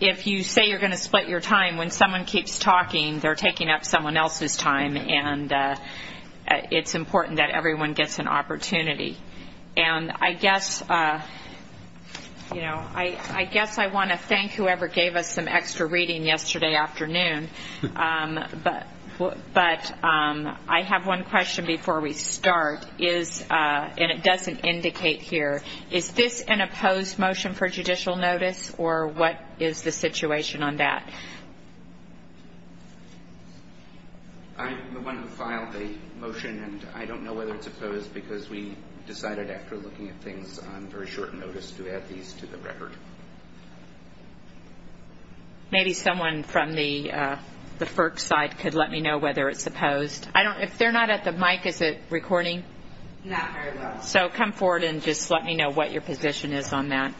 If you say you're going to split your time when someone keeps talking they're taking up someone else's time and it's important that everyone gets an opportunity and I guess you know I I guess I want to thank whoever gave us some extra reading yesterday afternoon but but I have one question before we start is and it doesn't indicate here is this an opposed motion for judicial notice or what is the situation on that? I'm the one who filed the motion and I don't know whether it's opposed because we decided after looking at things on very short notice to add these to the record. Maybe someone from the FERC side could let me know whether it's opposed. I don't if they're not at the mic is it recording? So come forward and just let me know what your position is on that.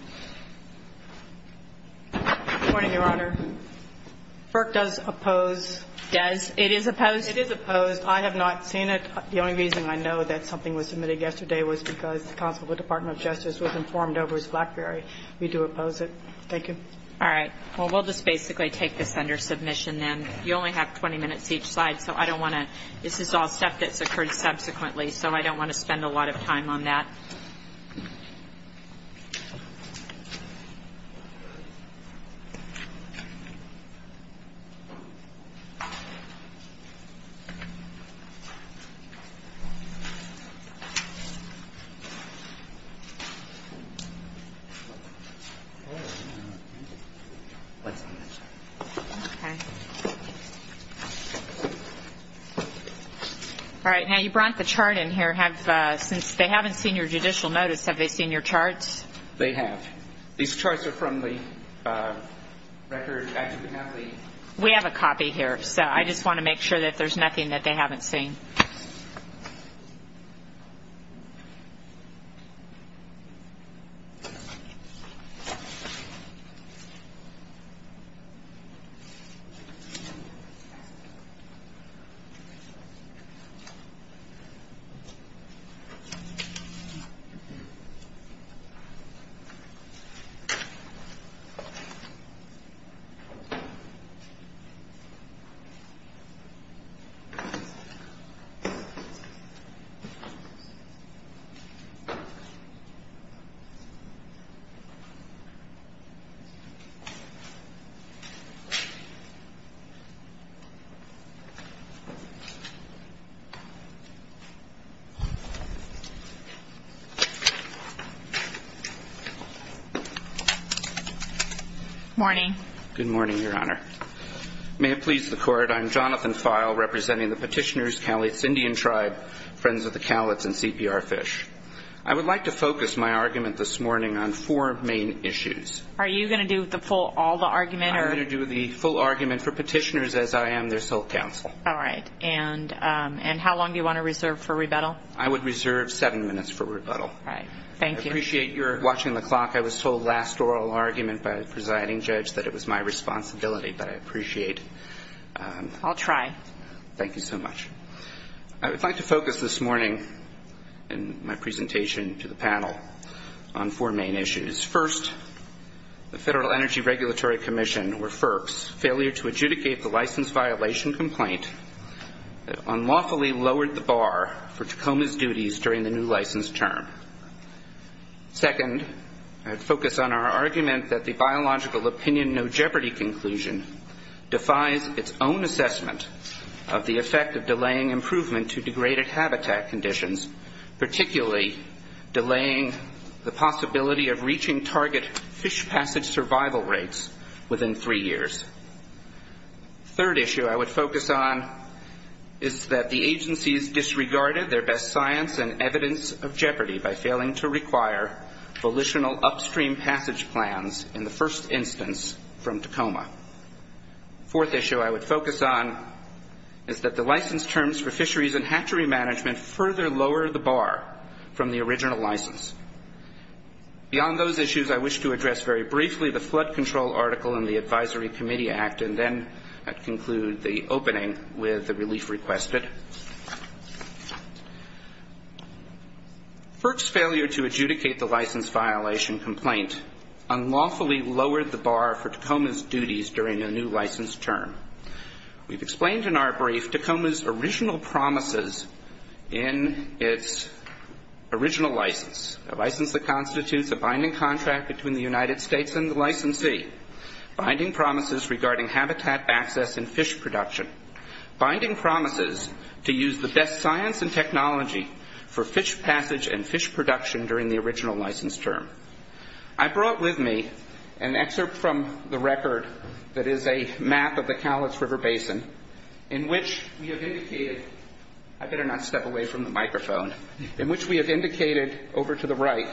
Berk does oppose. It is opposed? It is opposed. I have not seen it. The only reason I know that something was submitted yesterday was because the Council of the Department of Justice was informed over as Blackberry. We do oppose it. Thank you. All right well we'll just basically take this under submission then. You only have 20 minutes each slide so I don't want to this is all stuff that's occurred subsequently so I don't want to spend a lot of time on that. All right now you brought the chart in here. Since they haven't seen your judicial notice have they seen your credit report? They've not had a chance to access the list yet. You've brought a rule. With that chart? They have. These charts are from the record. We have a copy here so I just want to make sure that there's nothing that they haven't seen. Good morning. Good morning, Your Honor. May it please the court, I'm Jonathan Feil representing the Petitioners, Cowlitz Indian Tribe, Friends of the Cowlitz and CPR Fish. I would like to focus my argument this morning on four main issues. Are you going to do all the argument? I'm going to do the full argument for Petitioners as I am their sole counsel. All right. And how long do you want to reserve for rebuttal? I would reserve seven minutes for rebuttal. All right. Thank you. I appreciate your watching the clock. I was told last oral argument by the presiding judge that it was my responsibility but I appreciate. I'll try. Thank you so much. I would like to focus this morning in my presentation to the panel on four main issues. First, the Federal Energy Regulatory Commission or FERC's failure to adjudicate the license violation complaint that unlawfully lowered the bar for Tacoma's duties during the new license term. Second, I would focus on our argument that the biological opinion no jeopardy conclusion defies its own assessment of the effect of delaying improvement to degraded habitat conditions, particularly delaying the possibility of reaching target fish passage survival rates within three years. Third issue I would focus on is that the agencies disregarded their best science and evidence of jeopardy by failing to require volitional upstream passage plans in the first instance from Tacoma. Fourth issue I would focus on is that the license terms for fisheries and hatchery management further lower the bar from the original license. Beyond those issues I wish to address very briefly the flood control article in the Advisory Committee Act and then I'd conclude the opening with the relief requested. FERC's failure to adjudicate the license violation complaint unlawfully lowered the bar for Tacoma's duties during the new license term. We've explained in our brief Tacoma's original promises in its original license, a license that constitutes a binding contract between the United States and the licensee, binding promises regarding habitat access and fish production, binding promises to use the best science and technology for fish passage and fish production during the original license term. I brought with me an excerpt from the record that is a map of the Cowlitz River Basin in which we have indicated, I better not step away from the microphone, in which we have indicated over to the right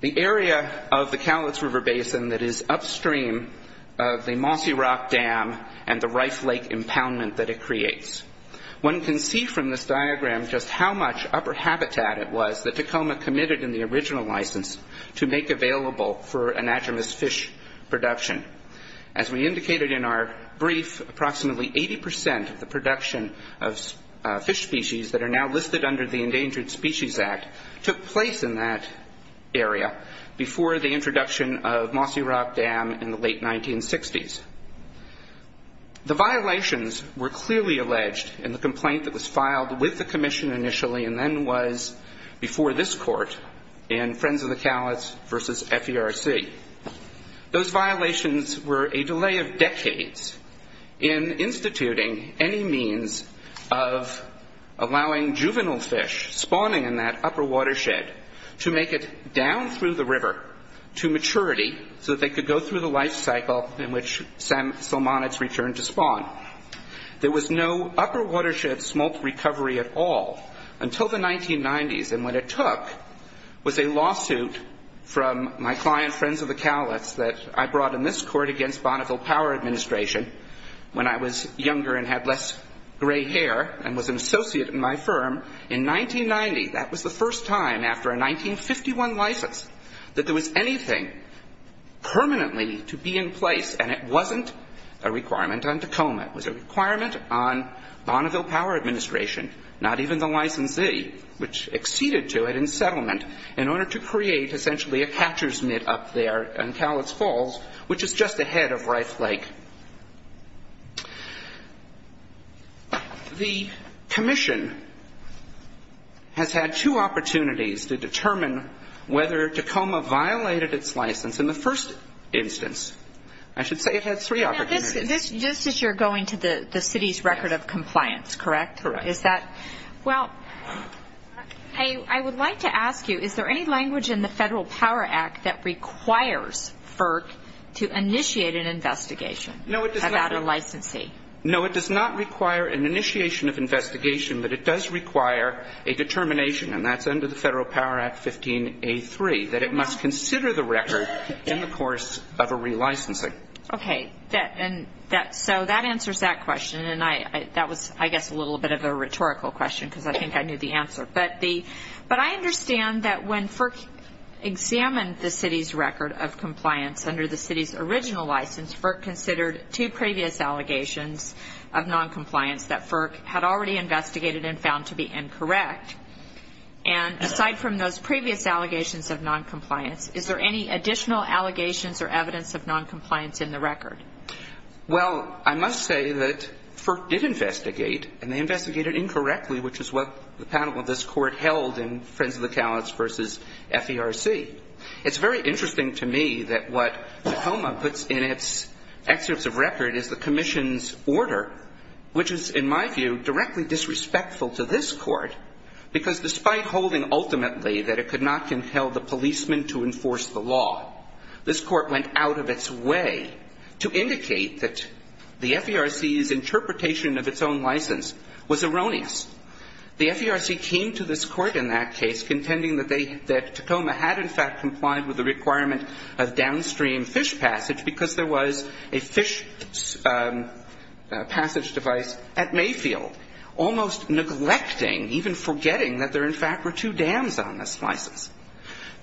the area of the Cowlitz River Basin that is upstream of the Mossy Rock Dam and the Rife Lake impoundment that it creates. One can see from this diagram just how much upper habitat it was that Tacoma committed in the original license to make available for anadromous fish production. As we indicated in our brief, approximately 80% of the production of fish species that are now listed under the Endangered Species Act took place in that area before the introduction of Mossy Rock Dam in the late 1960s. The violations were clearly alleged in the complaint that was filed with the commission initially and then was before this court in Friends of the Cowlitz versus FERC. Those violations were a delay of decades in instituting any means of allowing juvenile fish spawning in that upper watershed to make it down through the river to maturity so that they could go through the life cycle in which salmonids returned to spawn. There was no upper watershed smolt recovery at all until the 1990s and what it took was a lawsuit from my client, Friends of the Cowlitz, that I brought in this court against Bonneville Power Administration when I was younger and had less gray hair and was an associate in my firm in 1990. That was the first time after a 1951 license that there was anything permanently to be in place and it wasn't a requirement on Tacoma. It was a requirement on Bonneville Power Administration, not even the licensee, which acceded to it in settlement in order to create essentially a catcher's mitt up there in Cowlitz Falls, which is just ahead of Rife Lake. The commission has had two opportunities to determine whether Tacoma violated its license in the first instance. I should say it had three opportunities. Now this, just as you're going to the city's record of compliance, correct? Correct. Is that? Well, I would like to ask you, is there any language in the Federal Power Act that requires FERC to initiate an investigation about a licensee? No, it does not require an initiation of investigation, but it does require a determination, and that's under the Federal Power Act 15A3, that it must consider the record in the course of a relicensing. Okay, so that answers that question, and that was, I guess, a little bit of a rhetorical question because I think I knew the answer. But I understand that when FERC examined the city's record of compliance under the city's original license, FERC considered two previous allegations of noncompliance that FERC had already investigated and found to be incorrect, and aside from those previous allegations of noncompliance, is there any additional allegations or evidence of noncompliance in the record? Well, I must say that FERC did investigate, and they investigated incorrectly, which is what the panel of this Court held in Friends of the Callots v. FERC. It's very interesting to me that what Tacoma puts in its excerpts of record is the Commission's order, which is, in my view, directly disrespectful to this Court, because despite holding ultimately that it could not compel the policemen to enforce the law, this Court went out of its way to indicate that the FERC's interpretation of its own license was erroneous. The FERC came to this Court in that case contending that they, that Tacoma had in fact complied with the requirement of downstream fish passage because there was a fish passage device at Mayfield, almost neglecting, even forgetting that there in fact were two dams on this license.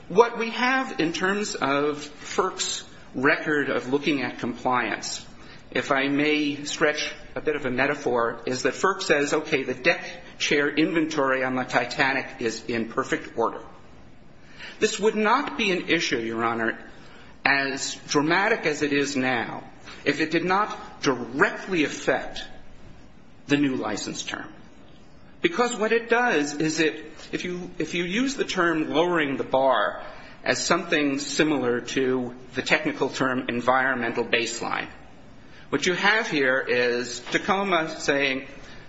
What we have in terms of FERC's record of looking at compliance, if I may stretch a bit of a metaphor, is that FERC says, okay, the deck chair inventory on the Titanic is in perfect order. This would not be an issue, Your Honor, as dramatic as it is now if it did not directly affect the new license term. Because what it does is it, if you use the term lowering the bar as something similar to the technical term environmental baseline, what you have here is Tacoma saying,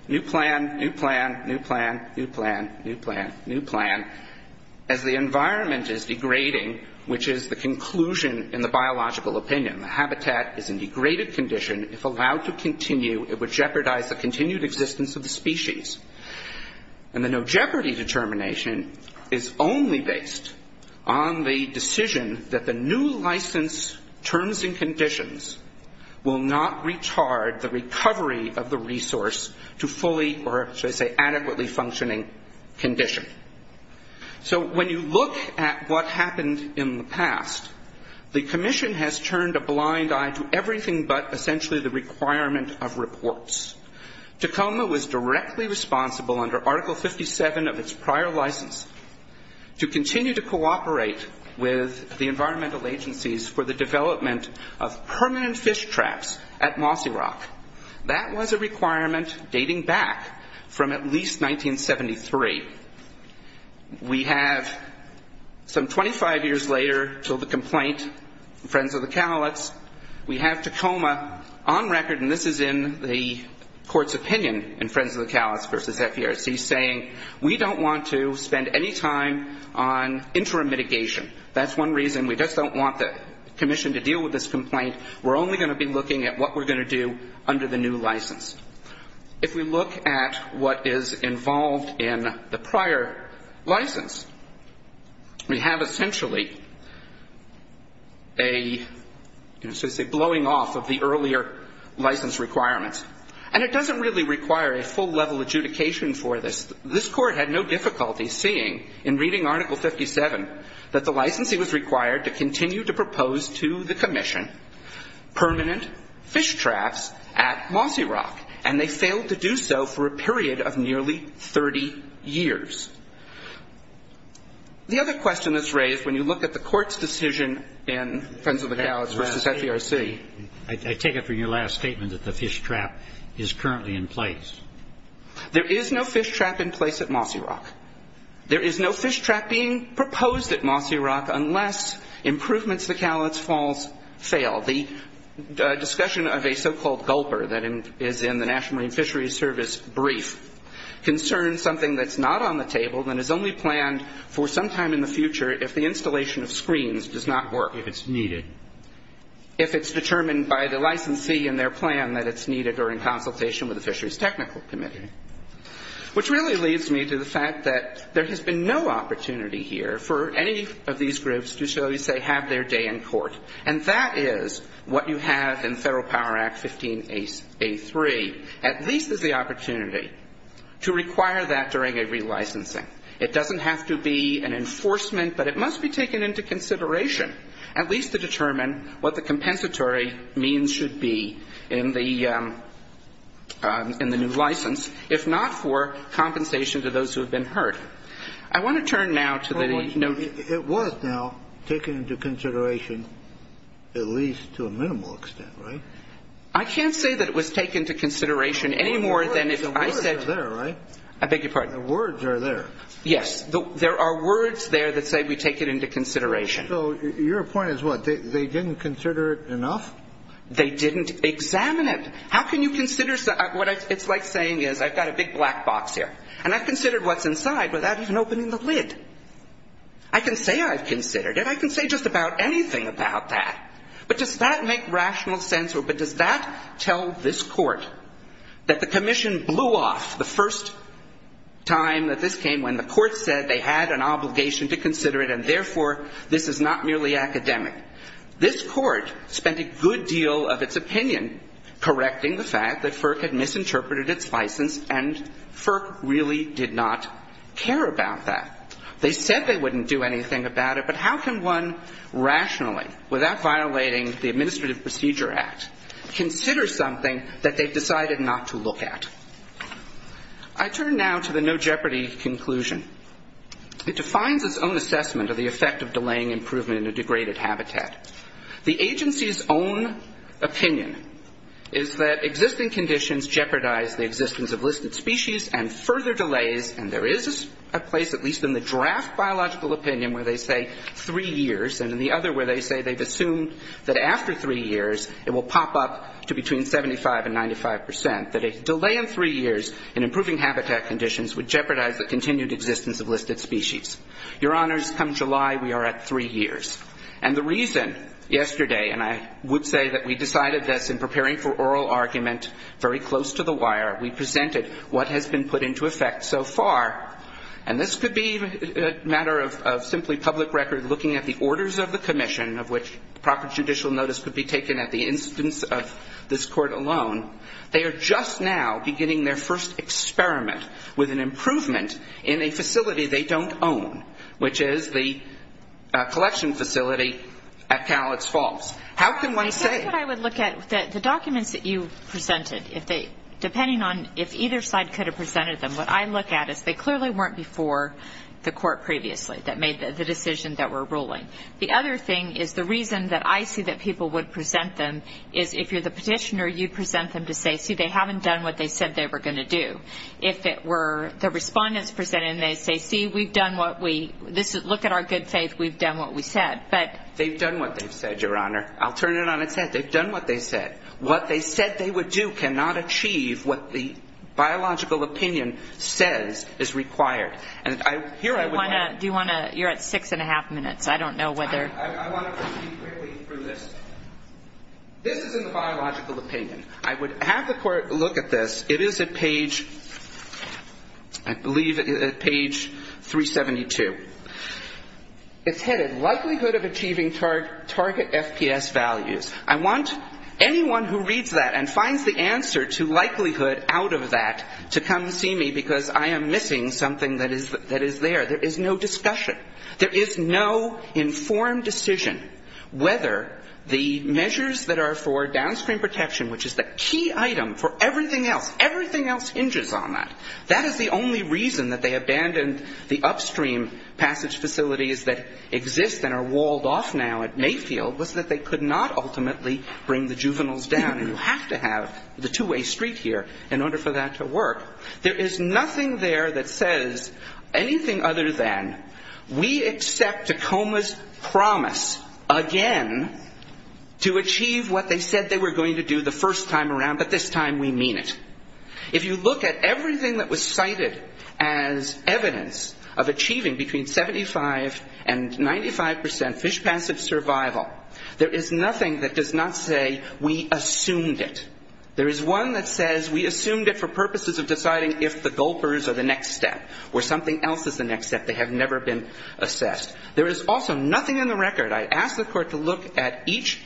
new plan, new plan, new plan, new plan, new plan, new plan, as the environment is degrading, which is the conclusion in the biological opinion. The habitat is in degraded condition. If allowed to continue, it would jeopardize the continued existence of the species. And the no jeopardy determination is only based on the decision that the new license terms and conditions will not retard the recovery of the resource to fully, or should I say adequately functioning condition. So when you look at what happened in the past, the Commission has turned a blind eye to everything but essentially the requirement of reports. Tacoma was directly responsible under Article 57 of its prior license to continue to cooperate with the environmental agencies for the development of permanent fish traps at Mossy Rock. That was a requirement dating back from at least 1973. We have some 25 years later, so the complaint, Friends of the Cowlitz, we have Tacoma on record, and this is in the court's opinion in Friends of the Cowlitz v. FDRC saying, we don't want to spend any time on interim mitigation. That's one reason. We just don't want the Commission to deal with this complaint. We're only going to be looking at what we're going to do under the new license. If we look at what is involved in the prior license, we have essentially a, so to say, blowing off of the earlier license requirements. And it doesn't really require a full-level adjudication for this. This Court had no difficulty seeing in reading Article 57 that the license was required to continue to propose to the Commission permanent fish traps at Mossy Rock, and they failed to do so for a period of nearly 30 years. The other question that's raised when you look at the Court's decision in Friends of the Cowlitz v. FDRC. I take it from your last statement that the fish trap is currently in place. There is no fish trap in place at Mossy Rock. There is no fish trap being proposed at Mossy Rock unless improvements to Cowlitz Falls fail. The discussion of a so-called gulper that is in the National Marine Fisheries Service brief concerns something that's not on the table and is only planned for some time in the future if the installation of screens does not work. If it's needed. If it's determined by the licensee and their plan that it's needed or in consultation with the Fisheries Technical Committee. Which really leads me to the fact that there has been no opportunity here for any of these groups to, shall we say, have their day in court. And that is what you have in Federal Power Act 15A3. At least there's the opportunity to require that during a relicensing. It doesn't have to be an enforcement, but it must be taken into consideration at least to determine what the compensatory means should be in the new license, if not for compensation to those who have been hurt. I want to turn now to the notice. It was now taken into consideration at least to a minimal extent, right? I can't say that it was taken into consideration any more than if I said. The words are there, right? I beg your pardon? The words are there. Yes. There are words there that say we take it into consideration. So your point is what? They didn't consider it enough? They didn't examine it. How can you consider what it's like saying is I've got a big black box here, and I've considered what's inside without even opening the lid. I can say I've considered it. I can say just about anything about that. But does that make rational sense or does that tell this Court that the commission blew off the first time that this came when the Court said they had an obligation to consider it and therefore this is not merely academic. This Court spent a good deal of its opinion correcting the fact that FERC had misinterpreted its license and FERC really did not care about that. They said they wouldn't do anything about it, but how can one rationally, without violating the Administrative Procedure Act, consider something that they've decided not to look at? I turn now to the no jeopardy conclusion. It defines its own assessment of the effect of delaying improvement in a degraded habitat. The agency's own opinion is that existing conditions jeopardize the existence of listed species and further delays, and there is a place at least in the draft biological opinion where they say three years and in the other where they say they've assumed that after three years it will pop up to between 75 and 95 percent, that a delay in three years in continued existence of listed species. Your Honors, come July we are at three years. And the reason yesterday, and I would say that we decided this in preparing for oral argument very close to the wire, we presented what has been put into effect so far, and this could be a matter of simply public record looking at the orders of the commission of which proper judicial notice could be taken at the instance of this Court alone. They are just now beginning their first experiment with an improvement in a facility they don't own, which is the collection facility at Cowlitz Falls. How can one say? I think what I would look at, the documents that you presented, depending on if either side could have presented them, what I look at is they clearly weren't before the Court previously that made the decision that we're ruling. The other thing is the reason that I see that people would present them is if you're the them to say, see, they haven't done what they said they were going to do. If it were the respondents presented and they say, see, we've done what we, look at our good faith, we've done what we said, but. They've done what they've said, Your Honor. I'll turn it on its head. They've done what they said. What they said they would do cannot achieve what the biological opinion says is required. And here I would. Do you want to? You're at six and a half minutes. I don't know whether. I want to proceed quickly through this. This is in the biological opinion. I would have the Court look at this. It is at page, I believe, at page 372. It's headed, likelihood of achieving target FPS values. I want anyone who reads that and finds the answer to likelihood out of that to come see me because I am missing something that is there. There is no discussion. There is no informed decision whether the measures that are for downstream protection, which is the key item for everything else, everything else hinges on that. That is the only reason that they abandoned the upstream passage facilities that exist and are walled off now at Mayfield was that they could not ultimately bring the juveniles down and you have to have the two-way street here in order for that to work. There is nothing there that says anything other than we accept Tacoma's promise again to achieve what they said they were going to do the first time around, but this time we mean it. If you look at everything that was cited as evidence of achieving between 75 and 95 percent fish passive survival, there is nothing that does not say we assumed it. There is one that says we assumed it for purposes of deciding if the gulpers are the next step or something else is the next step. They have never been assessed. There is also nothing in the record. I asked the court to look at each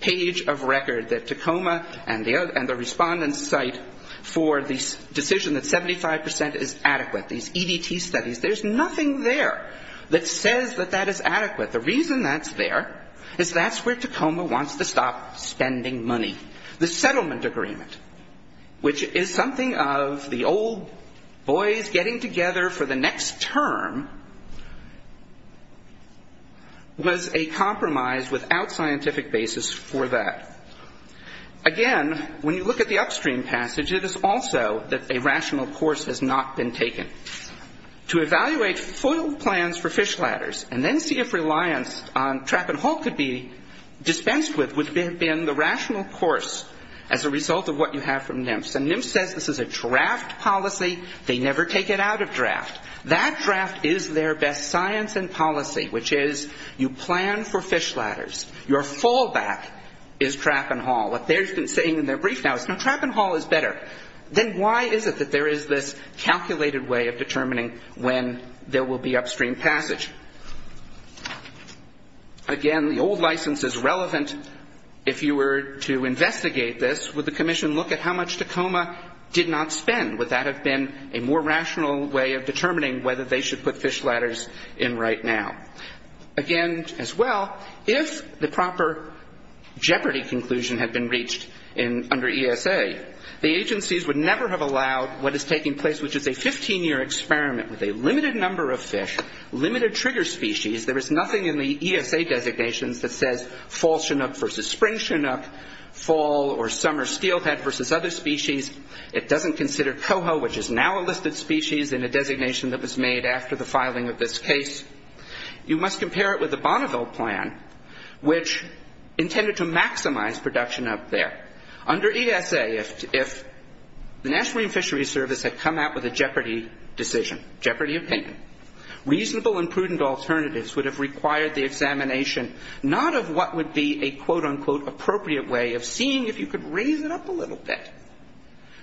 page of record that Tacoma and the respondents cite for the decision that 75 percent is adequate. These EDT studies, there is nothing there that says that that is adequate. The reason that's there is that's where Tacoma wants to stop spending money. The settlement agreement, which is something of the old boys getting together for the next term, was a compromise without scientific basis for that. Again, when you look at the upstream passage, it is also that a rational course has not been taken. To evaluate FOIL plans for fish ladders and then see if reliance on trap and hull could be dispensed with would have been the rational course as a result of what you have from NMFS. And NMFS says this is a draft policy. They never take it out of draft. That draft is their best science and policy, which is you plan for fish ladders. Your fallback is trap and hull. What they've been saying in their brief now is, no, trap and hull is better. Then why is it that there is this calculated way of determining when there will be upstream passage? Again, the old license is relevant. If you were to investigate this, would the commission look at how much Tacoma did not spend? Would that have been a more rational way of determining whether they should put fish ladders in right now? Again, as well, if the proper Jeopardy conclusion had been reached under ESA, the agencies would never have allowed what is taking place, which is a 15-year experiment with a limited number of fish, limited trigger species. There is nothing in the ESA designations that says fall chinook versus spring chinook, fall or summer steelhead versus other species. It doesn't consider coho, which is now a listed species in a designation that was made after the filing of this case. You must compare it with the Bonneville plan, which intended to maximize production up there. Under ESA, if the National Marine Fisheries Service had come out with a Jeopardy decision, Jeopardy opinion, reasonable and prudent alternatives would have required the examination not of what would be a quote-unquote appropriate way of seeing if you could raise it up a little bit,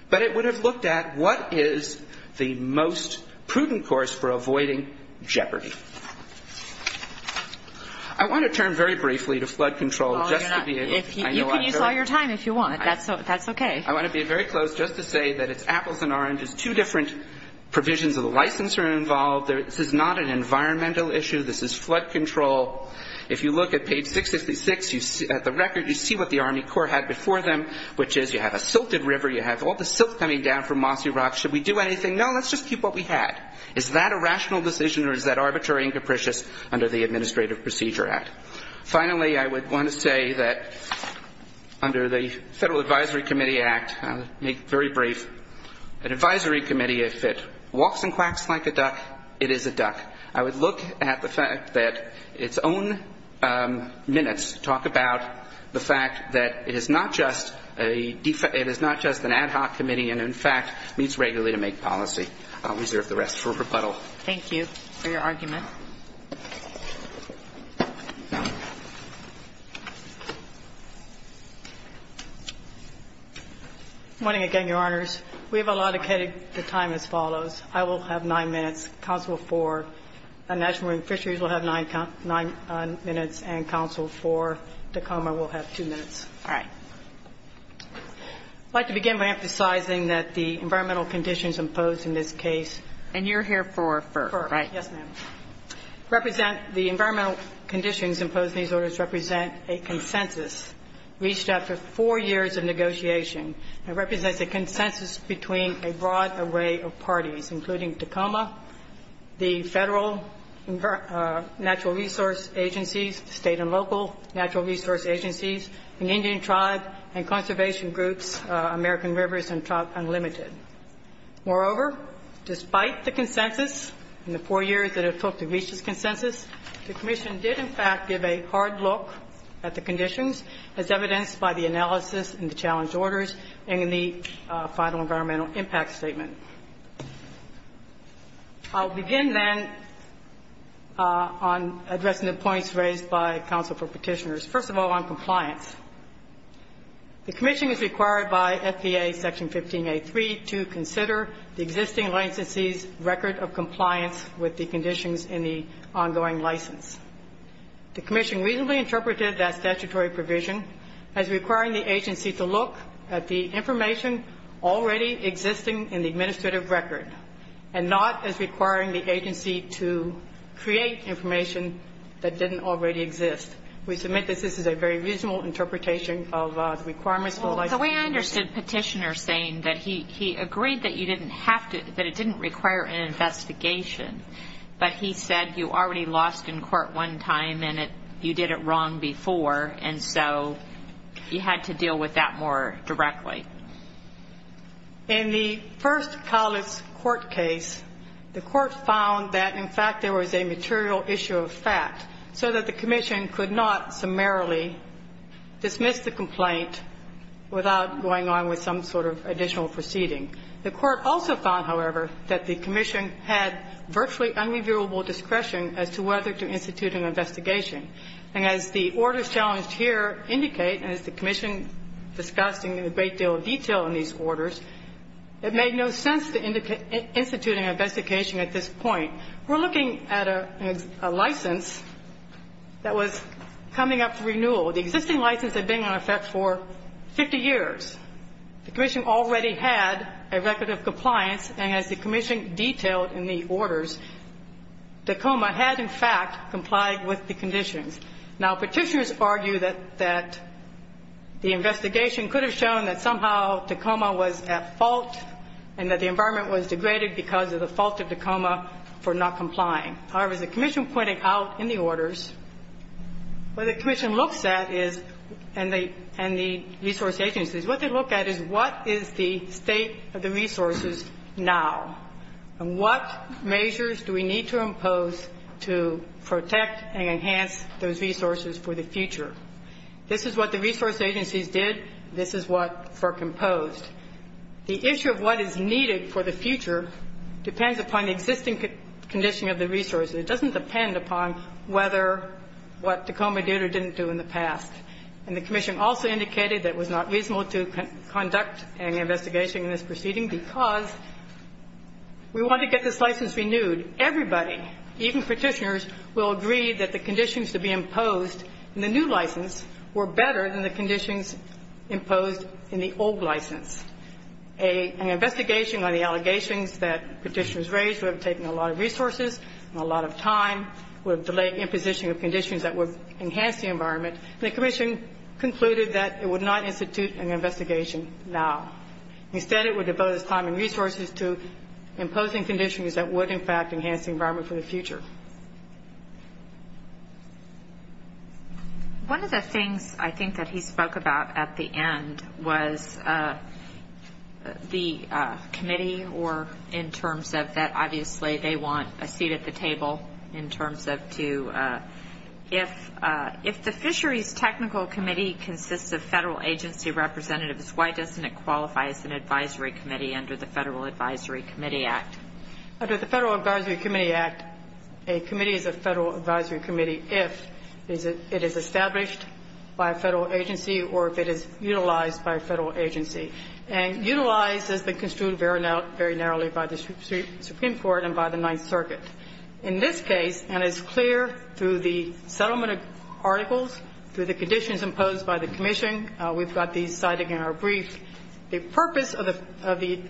but it would have looked at what is the most prudent course for avoiding Jeopardy. I want to turn very briefly to flood control just to be a... You can use all your time if you want, that's okay. I want to be very close just to say that it's apples and oranges. Two different provisions of the license are involved. This is not an environmental issue. This is flood control. If you look at page 666 at the record, you see what the Army Corps had before them, which is you have a silted river, you have all the silt coming down from Mossy Rock, should we do anything? No, let's just keep what we had. Is that a rational decision or is that arbitrary and capricious under the Administrative Procedure Act? Finally, I would want to say that under the Federal Advisory Committee Act, I'll make very brief, an advisory committee, if it walks and quacks like a duck, it is a duck. I would look at the fact that its own minutes talk about the fact that it is not just an ad hoc committee and, in fact, meets regularly to make policy. I'll reserve the rest for rebuttal. Thank you for your argument. Good morning again, Your Honors. We have allotted the time as follows. I will have nine minutes, counsel for National Marine Fisheries will have nine minutes, and counsel for Tacoma will have two minutes. All right. I'd like to begin by emphasizing that the environmental conditions imposed in this case. And you're here for FERC, right? Yes, ma'am. Represent the environmental conditions imposed in these orders represent a consensus reached after four years of negotiation that represents a consensus between a broad array of parties, including Tacoma, the Federal Natural Resource Agencies, State and Local Natural Resource Agencies, and Indian Tribe and Conservation Groups, American Rivers, and Tribe Unlimited. Moreover, despite the consensus and the four years that it took to reach this consensus, the commission did, in fact, give a hard look at the conditions as evidenced by the statutory provision. I'll begin, then, on addressing the points raised by counsel for petitioners. First of all, on compliance, the commission is required by FDA Section 15A.3 to consider the existing licensee's record of compliance with the conditions in the ongoing license. The commission reasonably interpreted that statutory provision as requiring the agency to look at the information already existing in the administrative record, and not as requiring the agency to create information that didn't already exist. We submit that this is a very reasonable interpretation of the requirements for the license. Well, the way I understood petitioner saying that he agreed that you didn't have to, that it didn't require an investigation, but he said you already lost in court one time and you did it long before, and so you had to deal with that more directly. In the first college court case, the court found that, in fact, there was a material issue of fact, so that the commission could not summarily dismiss the complaint without going on with some sort of additional proceeding. The court also found, however, that the commission had virtually unreviewable discretion as to whether to institute an investigation. And as the orders challenged here indicate, and as the commission discussed in a great deal of detail in these orders, it made no sense to institute an investigation at this point. We're looking at a license that was coming up for renewal. The existing license had been in effect for 50 years. The commission already had a record of compliance, and as the commission detailed in the orders, Tacoma had, in fact, complied with the conditions. Now, petitioners argue that the investigation could have shown that somehow Tacoma was at fault and that the environment was degraded because of the fault of Tacoma for not complying. However, as the commission pointed out in the orders, what the commission looks at is, and the resource agencies, what they look at is what is the state of the resources now, and what measures do we need to impose to protect and enhance those resources for the future. This is what the resource agencies did. This is what FERC imposed. The issue of what is needed for the future depends upon the existing condition of the resources. It doesn't depend upon whether what Tacoma did or didn't do in the past. And the commission also indicated that it was not reasonable to conduct an investigation in this proceeding because we want to get this license renewed. Everybody, even petitioners, will agree that the conditions to be imposed in the new license were better than the conditions imposed in the old license. An investigation on the allegations that petitioners raised would have taken a lot of resources and a lot of time, would have delayed imposition of conditions that would enhance the environment, and the commission concluded that it would not institute an investigation now. Instead, it would devote its time and resources to imposing conditions that would, in fact, enhance the environment for the future. One of the things I think that he spoke about at the end was the committee, or in terms of that obviously they want a seat at the table in terms of to, if the fisheries technical committee consists of federal agency representatives, why doesn't it qualify as an advisory committee under the Federal Advisory Committee Act? Under the Federal Advisory Committee Act, a committee is a federal advisory committee if it is established by a federal agency or if it is utilized by a federal agency. And utilized has been construed very narrowly by the Supreme Court and by the Ninth Circuit. In this case, and it's clear through the settlement of articles, through the conditions imposed by the commission, we've got these cited in our brief, the purpose of the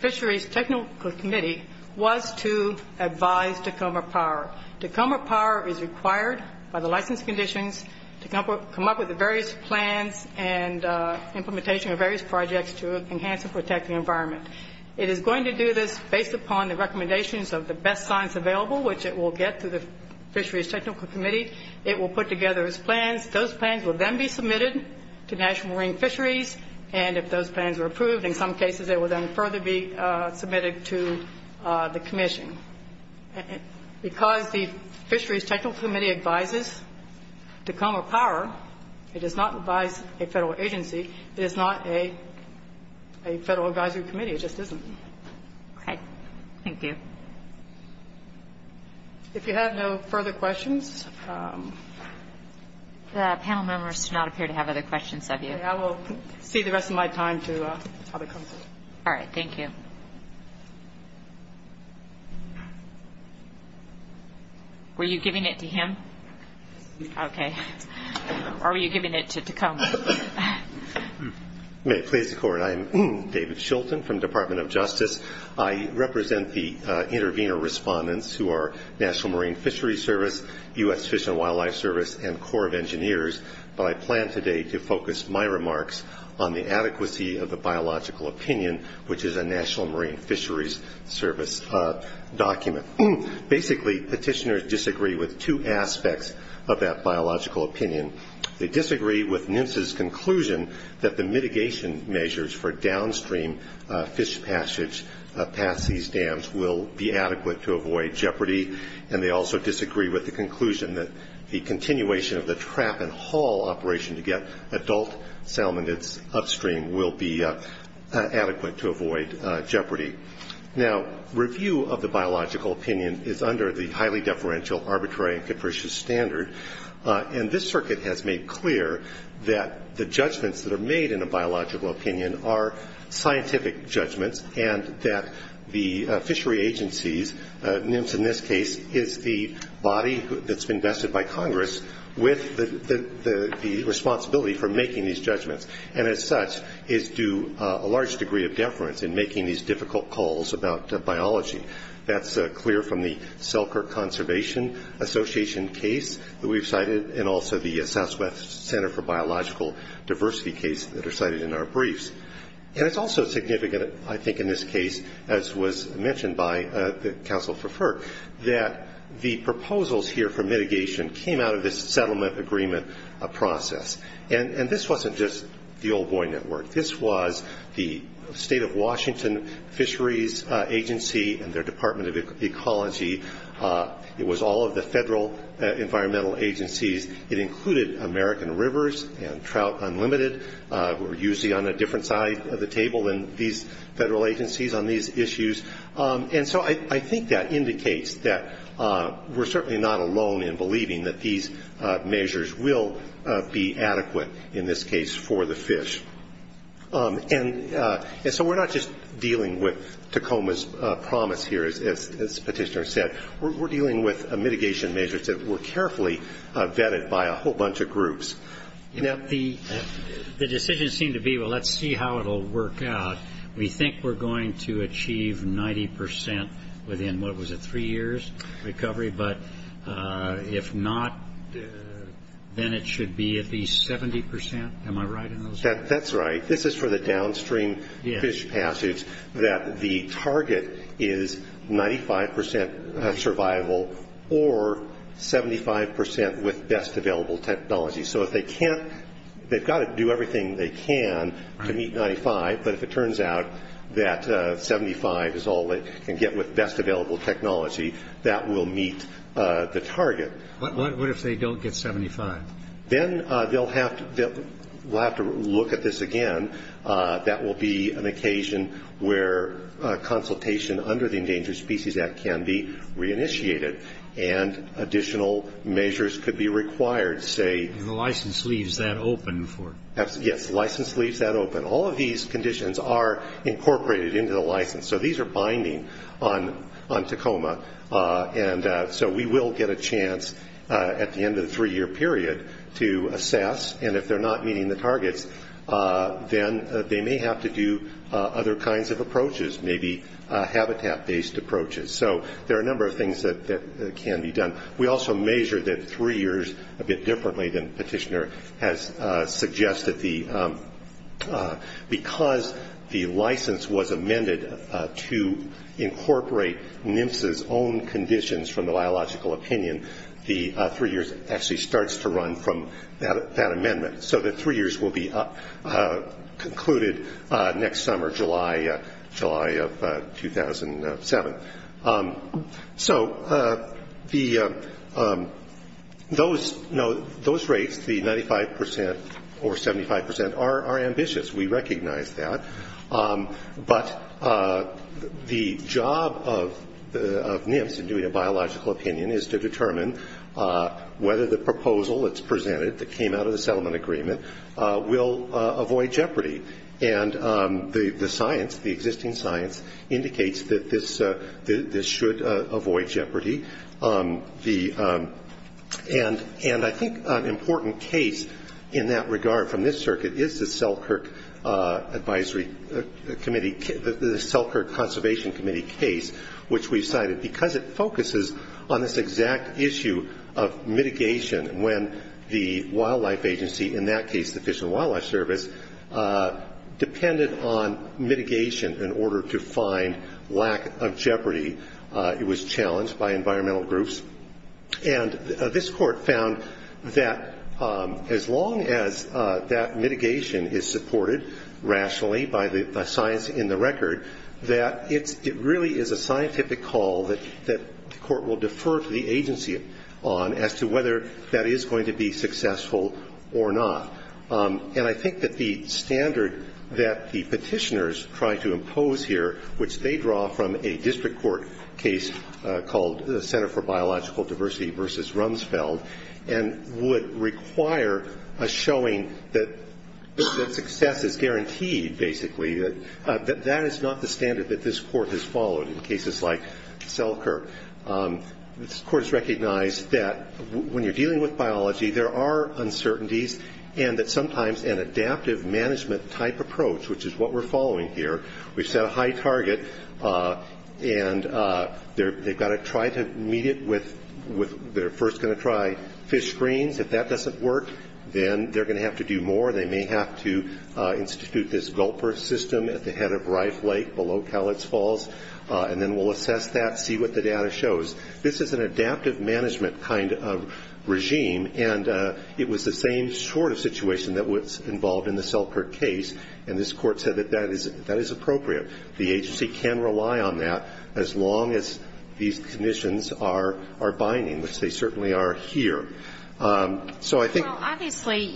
fisheries technical committee was to advise Tacoma Power. Tacoma Power is required by the license conditions to come up with the various plans and implementation of various projects to enhance and protect the environment. It is going to do this based upon the recommendations of the best science available, which it will get through the fisheries technical committee. It will put together its plans. Those plans will then be submitted to National Marine Fisheries. And if those plans are approved, in some cases, they will then further be submitted to the commission. Because the fisheries technical committee advises Tacoma Power, it does not advise a federal agency. It is not a federal advisory committee. It just isn't. Okay. Thank you. If you have no further questions. The panel members do not appear to have other questions of you. Okay. I will see the rest of my time to public comment. All right. Thank you. Were you giving it to him? Okay. Or were you giving it to Tacoma? May it please the Court. I am David Shilton from the Department of Justice. I represent the intervener respondents who are National Marine Fisheries Service, U.S. Fish and Wildlife Service, and Corps of Engineers. But I plan today to focus my remarks on the adequacy of the biological opinion, which is a National Marine Fisheries Service document. Basically, petitioners disagree with two aspects of that biological opinion. They disagree with NMFS's conclusion that the mitigation measures for downstream fish passage past these dams will be adequate to avoid jeopardy, and they also disagree with the conclusion that the continuation of the trap and haul operation to get adult salmon that's upstream will be adequate to avoid jeopardy. Now, review of the biological opinion is under the highly deferential, arbitrary, and capricious standard, and this circuit has made clear that the judgments that are made in a biological opinion are scientific judgments and that the fishery agencies, NMFS in this case, is the body that's been vested by Congress with the responsibility for making these judgments, and as such is due a large degree of deference in making these difficult calls about biology. That's clear from the Selkirk Conservation Association case that we've cited and also the Southwest Center for Biological Diversity case that are cited in our briefs. It's also significant, I think, in this case, as was mentioned by the counsel for FERC, that the proposals here for mitigation came out of this settlement agreement process, and this wasn't just the old boy network. This was the State of Washington Fisheries Agency and their Department of Ecology. It was all of the federal environmental agencies. It included American Rivers and Trout Unlimited, who are usually on a different side of the table than these federal agencies on these issues, and so I think that indicates that we're certainly not alone in believing that these measures will be adequate, in this case, for the fish. And so we're not just dealing with Tacoma's promise here, as Petitioner said. We're dealing with mitigation measures that were carefully vetted by a whole bunch of groups. The decisions seem to be, well, let's see how it will work out. We think we're going to achieve 90 percent within, what was it, three years' recovery, but if not, then it should be at least 70 percent. Am I right in those terms? That's right. This is for the downstream fish passage, that the target is 95 percent survival or 75 percent with best available technology. So if they can't, they've got to do everything they can to meet 95, but if it turns out that 75 is all they can get with best available technology, that will meet the target. What if they don't get 75? Then they'll have to look at this again. That will be an occasion where consultation under the Endangered Species Act can be reinitiated and additional measures could be required, say. And the license leaves that open for it. Yes, the license leaves that open. All of these conditions are incorporated into the license, so these are binding on Tacoma. And so we will get a chance at the end of the three-year period to assess, and if they're not meeting the targets, then they may have to do other kinds of approaches, maybe habitat-based approaches. So there are a number of things that can be done. We also measure the three years a bit differently than Petitioner has suggested. Because the license was amended to incorporate NMSA's own conditions from the biological opinion, the three years actually starts to run from that amendment. So the three years will be concluded next summer, July of 2007. So those rates, the 95 percent or 75 percent, are ambitious. We recognize that. But the job of NMSA in doing a biological opinion is to determine whether the proposal that's presented, that came out of the settlement agreement, will avoid jeopardy. And the science, the existing science, indicates that this should avoid jeopardy. And I think an important case in that regard from this circuit is the Selkirk Advisory Committee, the Selkirk Conservation Committee case, which we've cited, because it focuses on this exact issue of mitigation when the wildlife agency, in that case the Fish and Wildlife Service, depended on mitigation in order to find lack of jeopardy. It was challenged by environmental groups. And this court found that as long as that mitigation is supported rationally by the science in the record, that it really is a scientific call that the court will defer to the agency on as to whether that is going to be successful or not. And I think that the standard that the petitioners try to impose here, which they draw from a district court case called the Center for Biological Diversity versus Rumsfeld, and would require a showing that success is guaranteed, basically, that that is not the standard that this court has followed in cases like Selkirk. This court has recognized that when you're dealing with biology, there are uncertainties, and that sometimes an adaptive management-type approach, which is what we're following here, we've set a high target, and they've got to try to meet it with, they're first going to try fish screens. If that doesn't work, then they're going to have to do more. They may have to institute this gulper system at the head of Rife Lake below Cowlitz Falls, and then we'll assess that, see what the data shows. This is an adaptive management kind of regime, and it was the same sort of situation that was involved in the Selkirk case, and this court said that that is appropriate. The agency can rely on that as long as these conditions are binding, which they certainly are here. So I think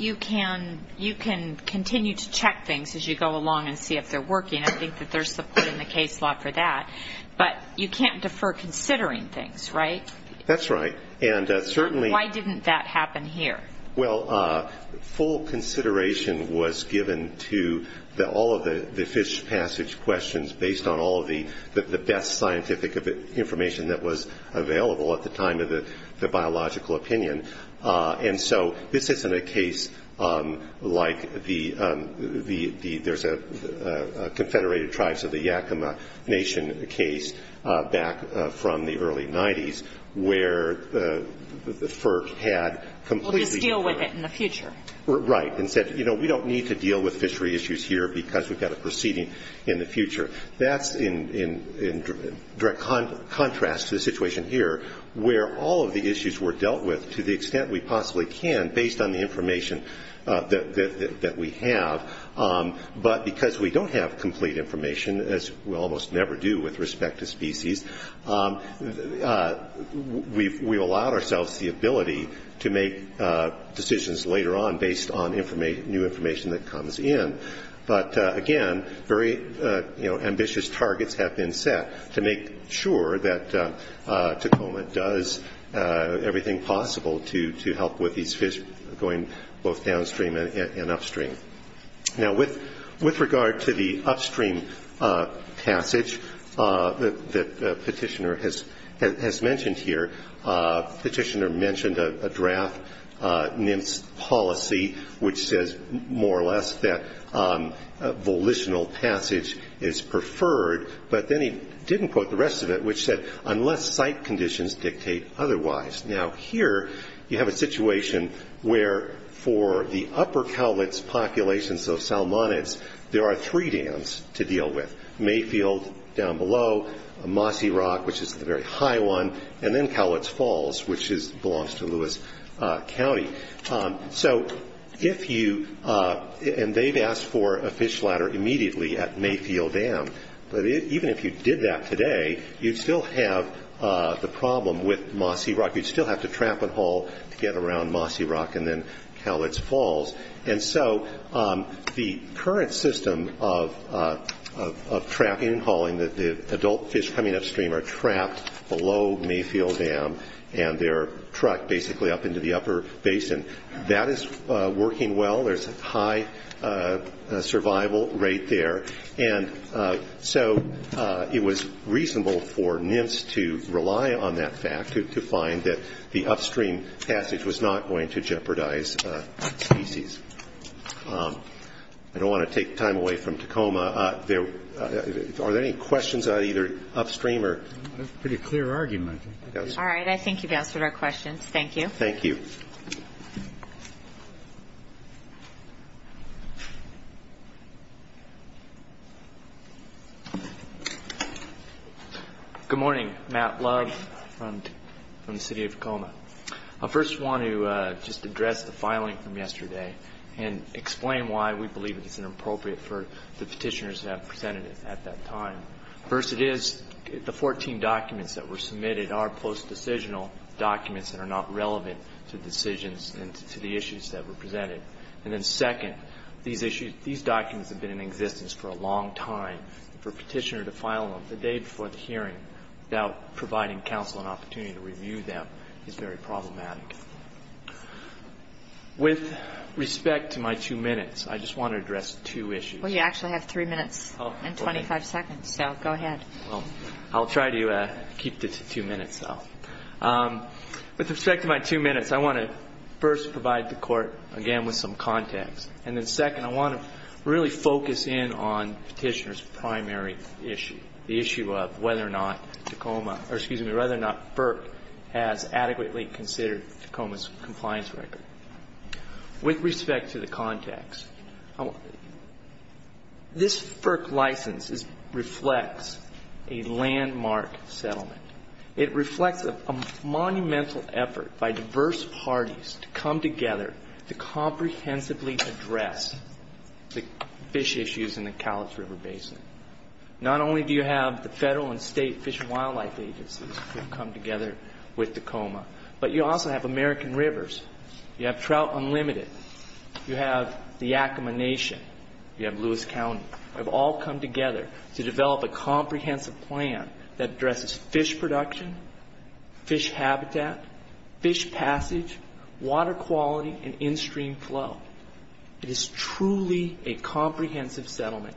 you can continue to check things as you go along and see if they're working. I think that there's support in the case law for that. But you can't defer considering things, right? That's right. Why didn't that happen here? Well, full consideration was given to all of the fish passage questions based on all of the best scientific information that was available at the time of the biological opinion. And so this isn't a case like the – there's a Confederated Tribes of the Yakima Nation case back from the early 90s where the FERC had completely We'll just deal with it in the future. Right, and said, you know, we don't need to deal with fishery issues here because we've got a proceeding in the future. That's in direct contrast to the situation here where all of the issues were dealt with to the extent we possibly can based on the information that we have, but because we don't have complete information, as we almost never do with respect to species, we've allowed ourselves the ability to make decisions later on based on new information that comes in. But, again, very ambitious targets have been set to make sure that Tacoma does everything possible to help with these fish going both downstream and upstream. Now, with regard to the upstream passage that the petitioner has mentioned here, NIMS policy, which says more or less that volitional passage is preferred, but then he didn't quote the rest of it, which said, unless site conditions dictate otherwise. Now, here you have a situation where for the upper Cowlitz populations of Salmonids, there are three dams to deal with. Mayfield down below, Mossy Rock, which is the very high one, and then Cowlitz Falls, which belongs to Lewis County. So if you, and they've asked for a fish ladder immediately at Mayfield Dam, but even if you did that today, you'd still have the problem with Mossy Rock. You'd still have to tramp and haul to get around Mossy Rock and then Cowlitz Falls. And so the current system of tramping and hauling, the adult fish coming upstream are trapped below Mayfield Dam and they're trucked basically up into the upper basin. That is working well. There's a high survival rate there. And so it was reasonable for NIMS to rely on that fact to find that the upstream passage was not going to jeopardize species. I don't want to take time away from Tacoma. Are there any questions on either upstream or? That's a pretty clear argument. All right. I think you've answered our questions. Thank you. Thank you. Good morning. Matt Love from the City of Tacoma. I first want to just address the filing from yesterday and explain why we believe it's inappropriate for the petitioners that presented it at that time. First, it is the 14 documents that were submitted are post-decisional documents that are not relevant to decisions and to the issues that were presented. And then second, these documents have been in existence for a long time. For a petitioner to file them the day before the hearing without providing counsel an opportunity to review them is very problematic. With respect to my two minutes, I just want to address two issues. Well, you actually have three minutes and 25 seconds, so go ahead. I'll try to keep to two minutes, though. With respect to my two minutes, I want to first provide the Court, again, with some context. And then second, I want to really focus in on the petitioner's primary issue, the issue of whether or not FERC has adequately considered Tacoma's compliance record. With respect to the context, this FERC license reflects a landmark settlement. It reflects a monumental effort by diverse parties to come together to comprehensively address the fish issues in the Cowlitz River Basin. Not only do you have the federal and state fish and wildlife agencies who have come together with Tacoma, but you also have American Rivers. You have Trout Unlimited. You have the Yakima Nation. You have Lewis County. You have all come together to develop a comprehensive plan that addresses fish production, fish habitat, fish passage, water quality, and in-stream flow. It is truly a comprehensive settlement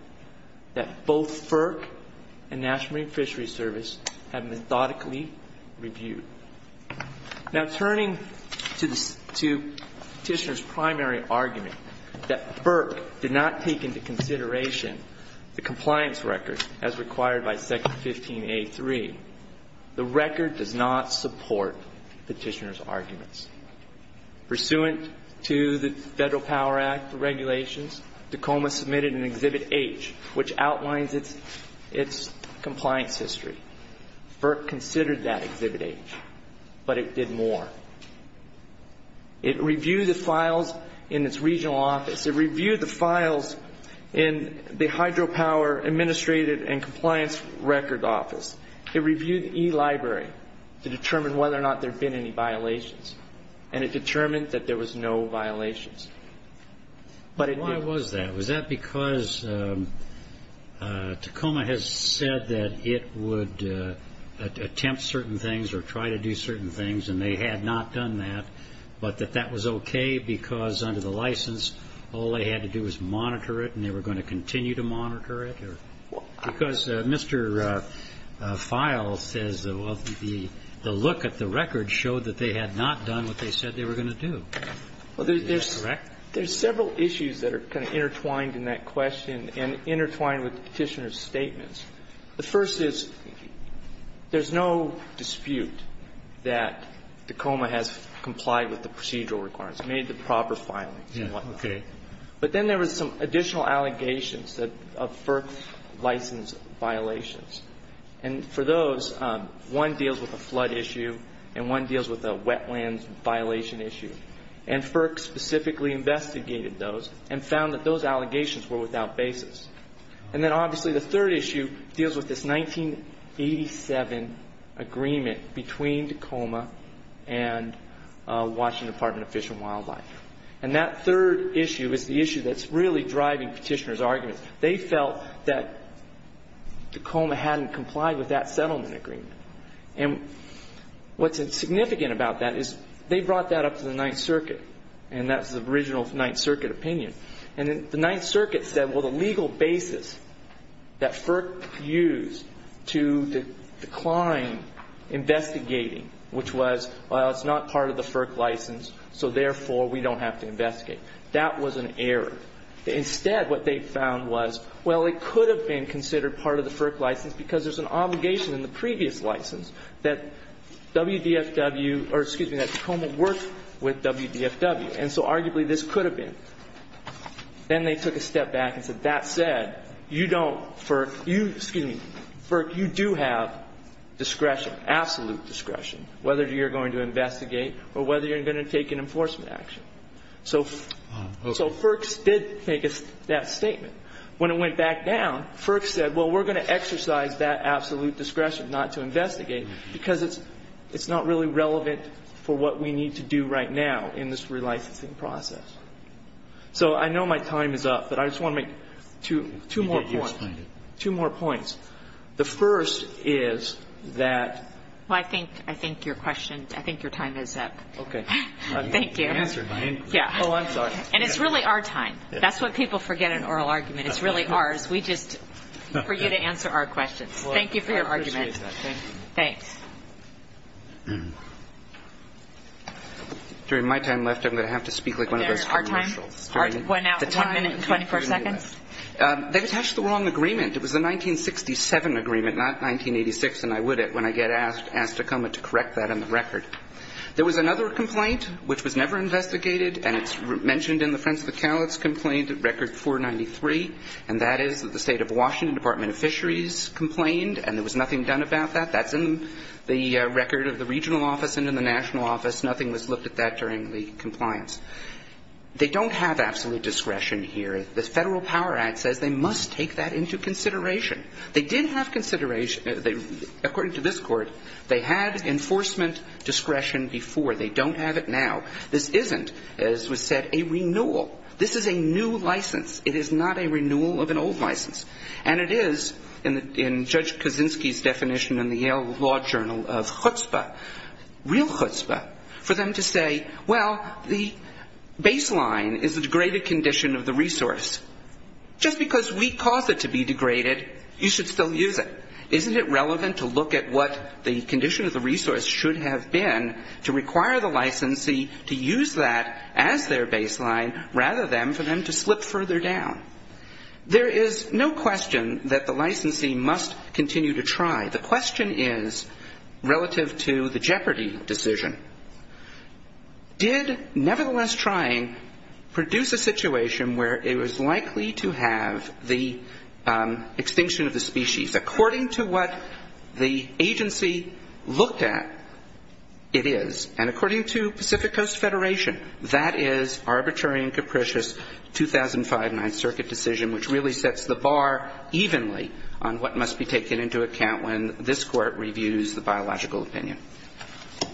that both FERC and National Marine Fisheries Service have methodically reviewed. Now, turning to petitioner's primary argument that FERC did not take into consideration the compliance record as required by Section 15A.3, the record does not support petitioner's arguments. Pursuant to the Federal Power Act regulations, Tacoma submitted an Exhibit H, which outlines its compliance history. FERC considered that Exhibit H. But it did more. It reviewed the files in its regional office. It reviewed the files in the Hydropower Administrative and Compliance Record Office. It reviewed eLibrary to determine whether or not there had been any violations. And it determined that there was no violations. But it did more. Was that because Tacoma has said that it would attempt certain things or try to do certain things and they had not done that, but that that was okay because under the license all they had to do was monitor it and they were going to continue to monitor it? Because Mr. Files says the look at the record showed that they had not done what they said they were going to do. Is that correct? There's several issues that are kind of intertwined in that question and intertwined with the petitioner's statements. The first is there's no dispute that Tacoma has complied with the procedural requirements, made the proper filings and whatnot. Okay. But then there was some additional allegations of FERC license violations. And for those, one deals with a flood issue and one deals with a wetlands violation issue. And FERC specifically investigated those and found that those allegations were without basis. And then obviously the third issue deals with this 1987 agreement between Tacoma and Washington Department of Fish and Wildlife. And that third issue is the issue that's really driving petitioner's arguments. They felt that Tacoma hadn't complied with that settlement agreement. And what's significant about that is they brought that up to the Ninth Circuit. And that's the original Ninth Circuit opinion. And the Ninth Circuit said, well, the legal basis that FERC used to decline investigating, which was, well, it's not part of the FERC license, so therefore we don't have to investigate. That was an error. Instead, what they found was, well, it could have been considered part of the FERC license because there's an obligation in the previous license that WDFW or, excuse me, that Tacoma worked with WDFW. And so arguably this could have been. Then they took a step back and said, that said, you don't, FERC, you, excuse me, FERC, you do have discretion, absolute discretion, whether you're going to investigate or whether you're going to take an enforcement action. So FERC did make that statement. When it went back down, FERC said, well, we're going to exercise that absolute discretion not to investigate because it's not really relevant for what we need to do right now in this relicensing process. So I know my time is up, but I just want to make two more points. Two more points. The first is that ---- Well, I think your question, I think your time is up. Okay. Thank you. You answered my inquiry. Yeah. Oh, I'm sorry. And it's really our time. That's why people forget an oral argument. It's really ours. We just, for you to answer our questions. Thank you for your argument. Well, I appreciate that. Thank you. Thanks. During my time left, I'm going to have to speak like one of those commercials. Our time? The time? One minute and 24 seconds? They've attached the wrong agreement. It was the 1967 agreement, not 1986, and I would, when I get asked Tacoma to correct that on the record. There was another complaint which was never investigated, and it's mentioned in the Frentz-McCallots complaint, Record 493, and that is that the State of Washington Department of Fisheries complained, and there was nothing done about that. That's in the record of the regional office and in the national office. Nothing was looked at that during the compliance. They don't have absolute discretion here. The Federal Power Act says they must take that into consideration. They did have consideration. According to this Court, they had enforcement discretion before. They don't have it now. This isn't, as was said, a renewal. This is a new license. It is not a renewal of an old license. And it is, in Judge Kaczynski's definition in the Yale Law Journal of chutzpah, real chutzpah, for them to say, well, the baseline is the degraded condition of the resource. Just because we cause it to be degraded, you should still use it. Isn't it relevant to look at what the condition of the resource should have been to require the licensee to use that as their baseline rather than for them to slip further down? There is no question that the licensee must continue to try. The question is, relative to the Jeopardy decision, did nevertheless trying produce a situation where it was likely to have the extinction of the species? According to what the agency looked at, it is. And according to Pacific Coast Federation, that is arbitrary and capricious 2005 Ninth Circuit decision, which really sets the bar evenly on what must be taken into account when this Court reviews the biological opinion.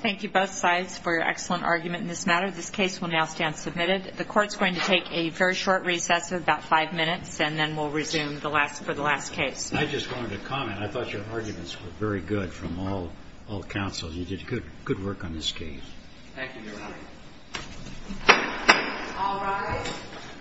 Thank you, both sides, for your excellent argument in this matter. This case will now stand submitted. The Court's going to take a very short recess of about five minutes, and then we'll resume for the last case. I just wanted to comment. I thought your arguments were very good from all counsels. You did good work on this case. Thank you, Your Honor. All rise. The case is submitted.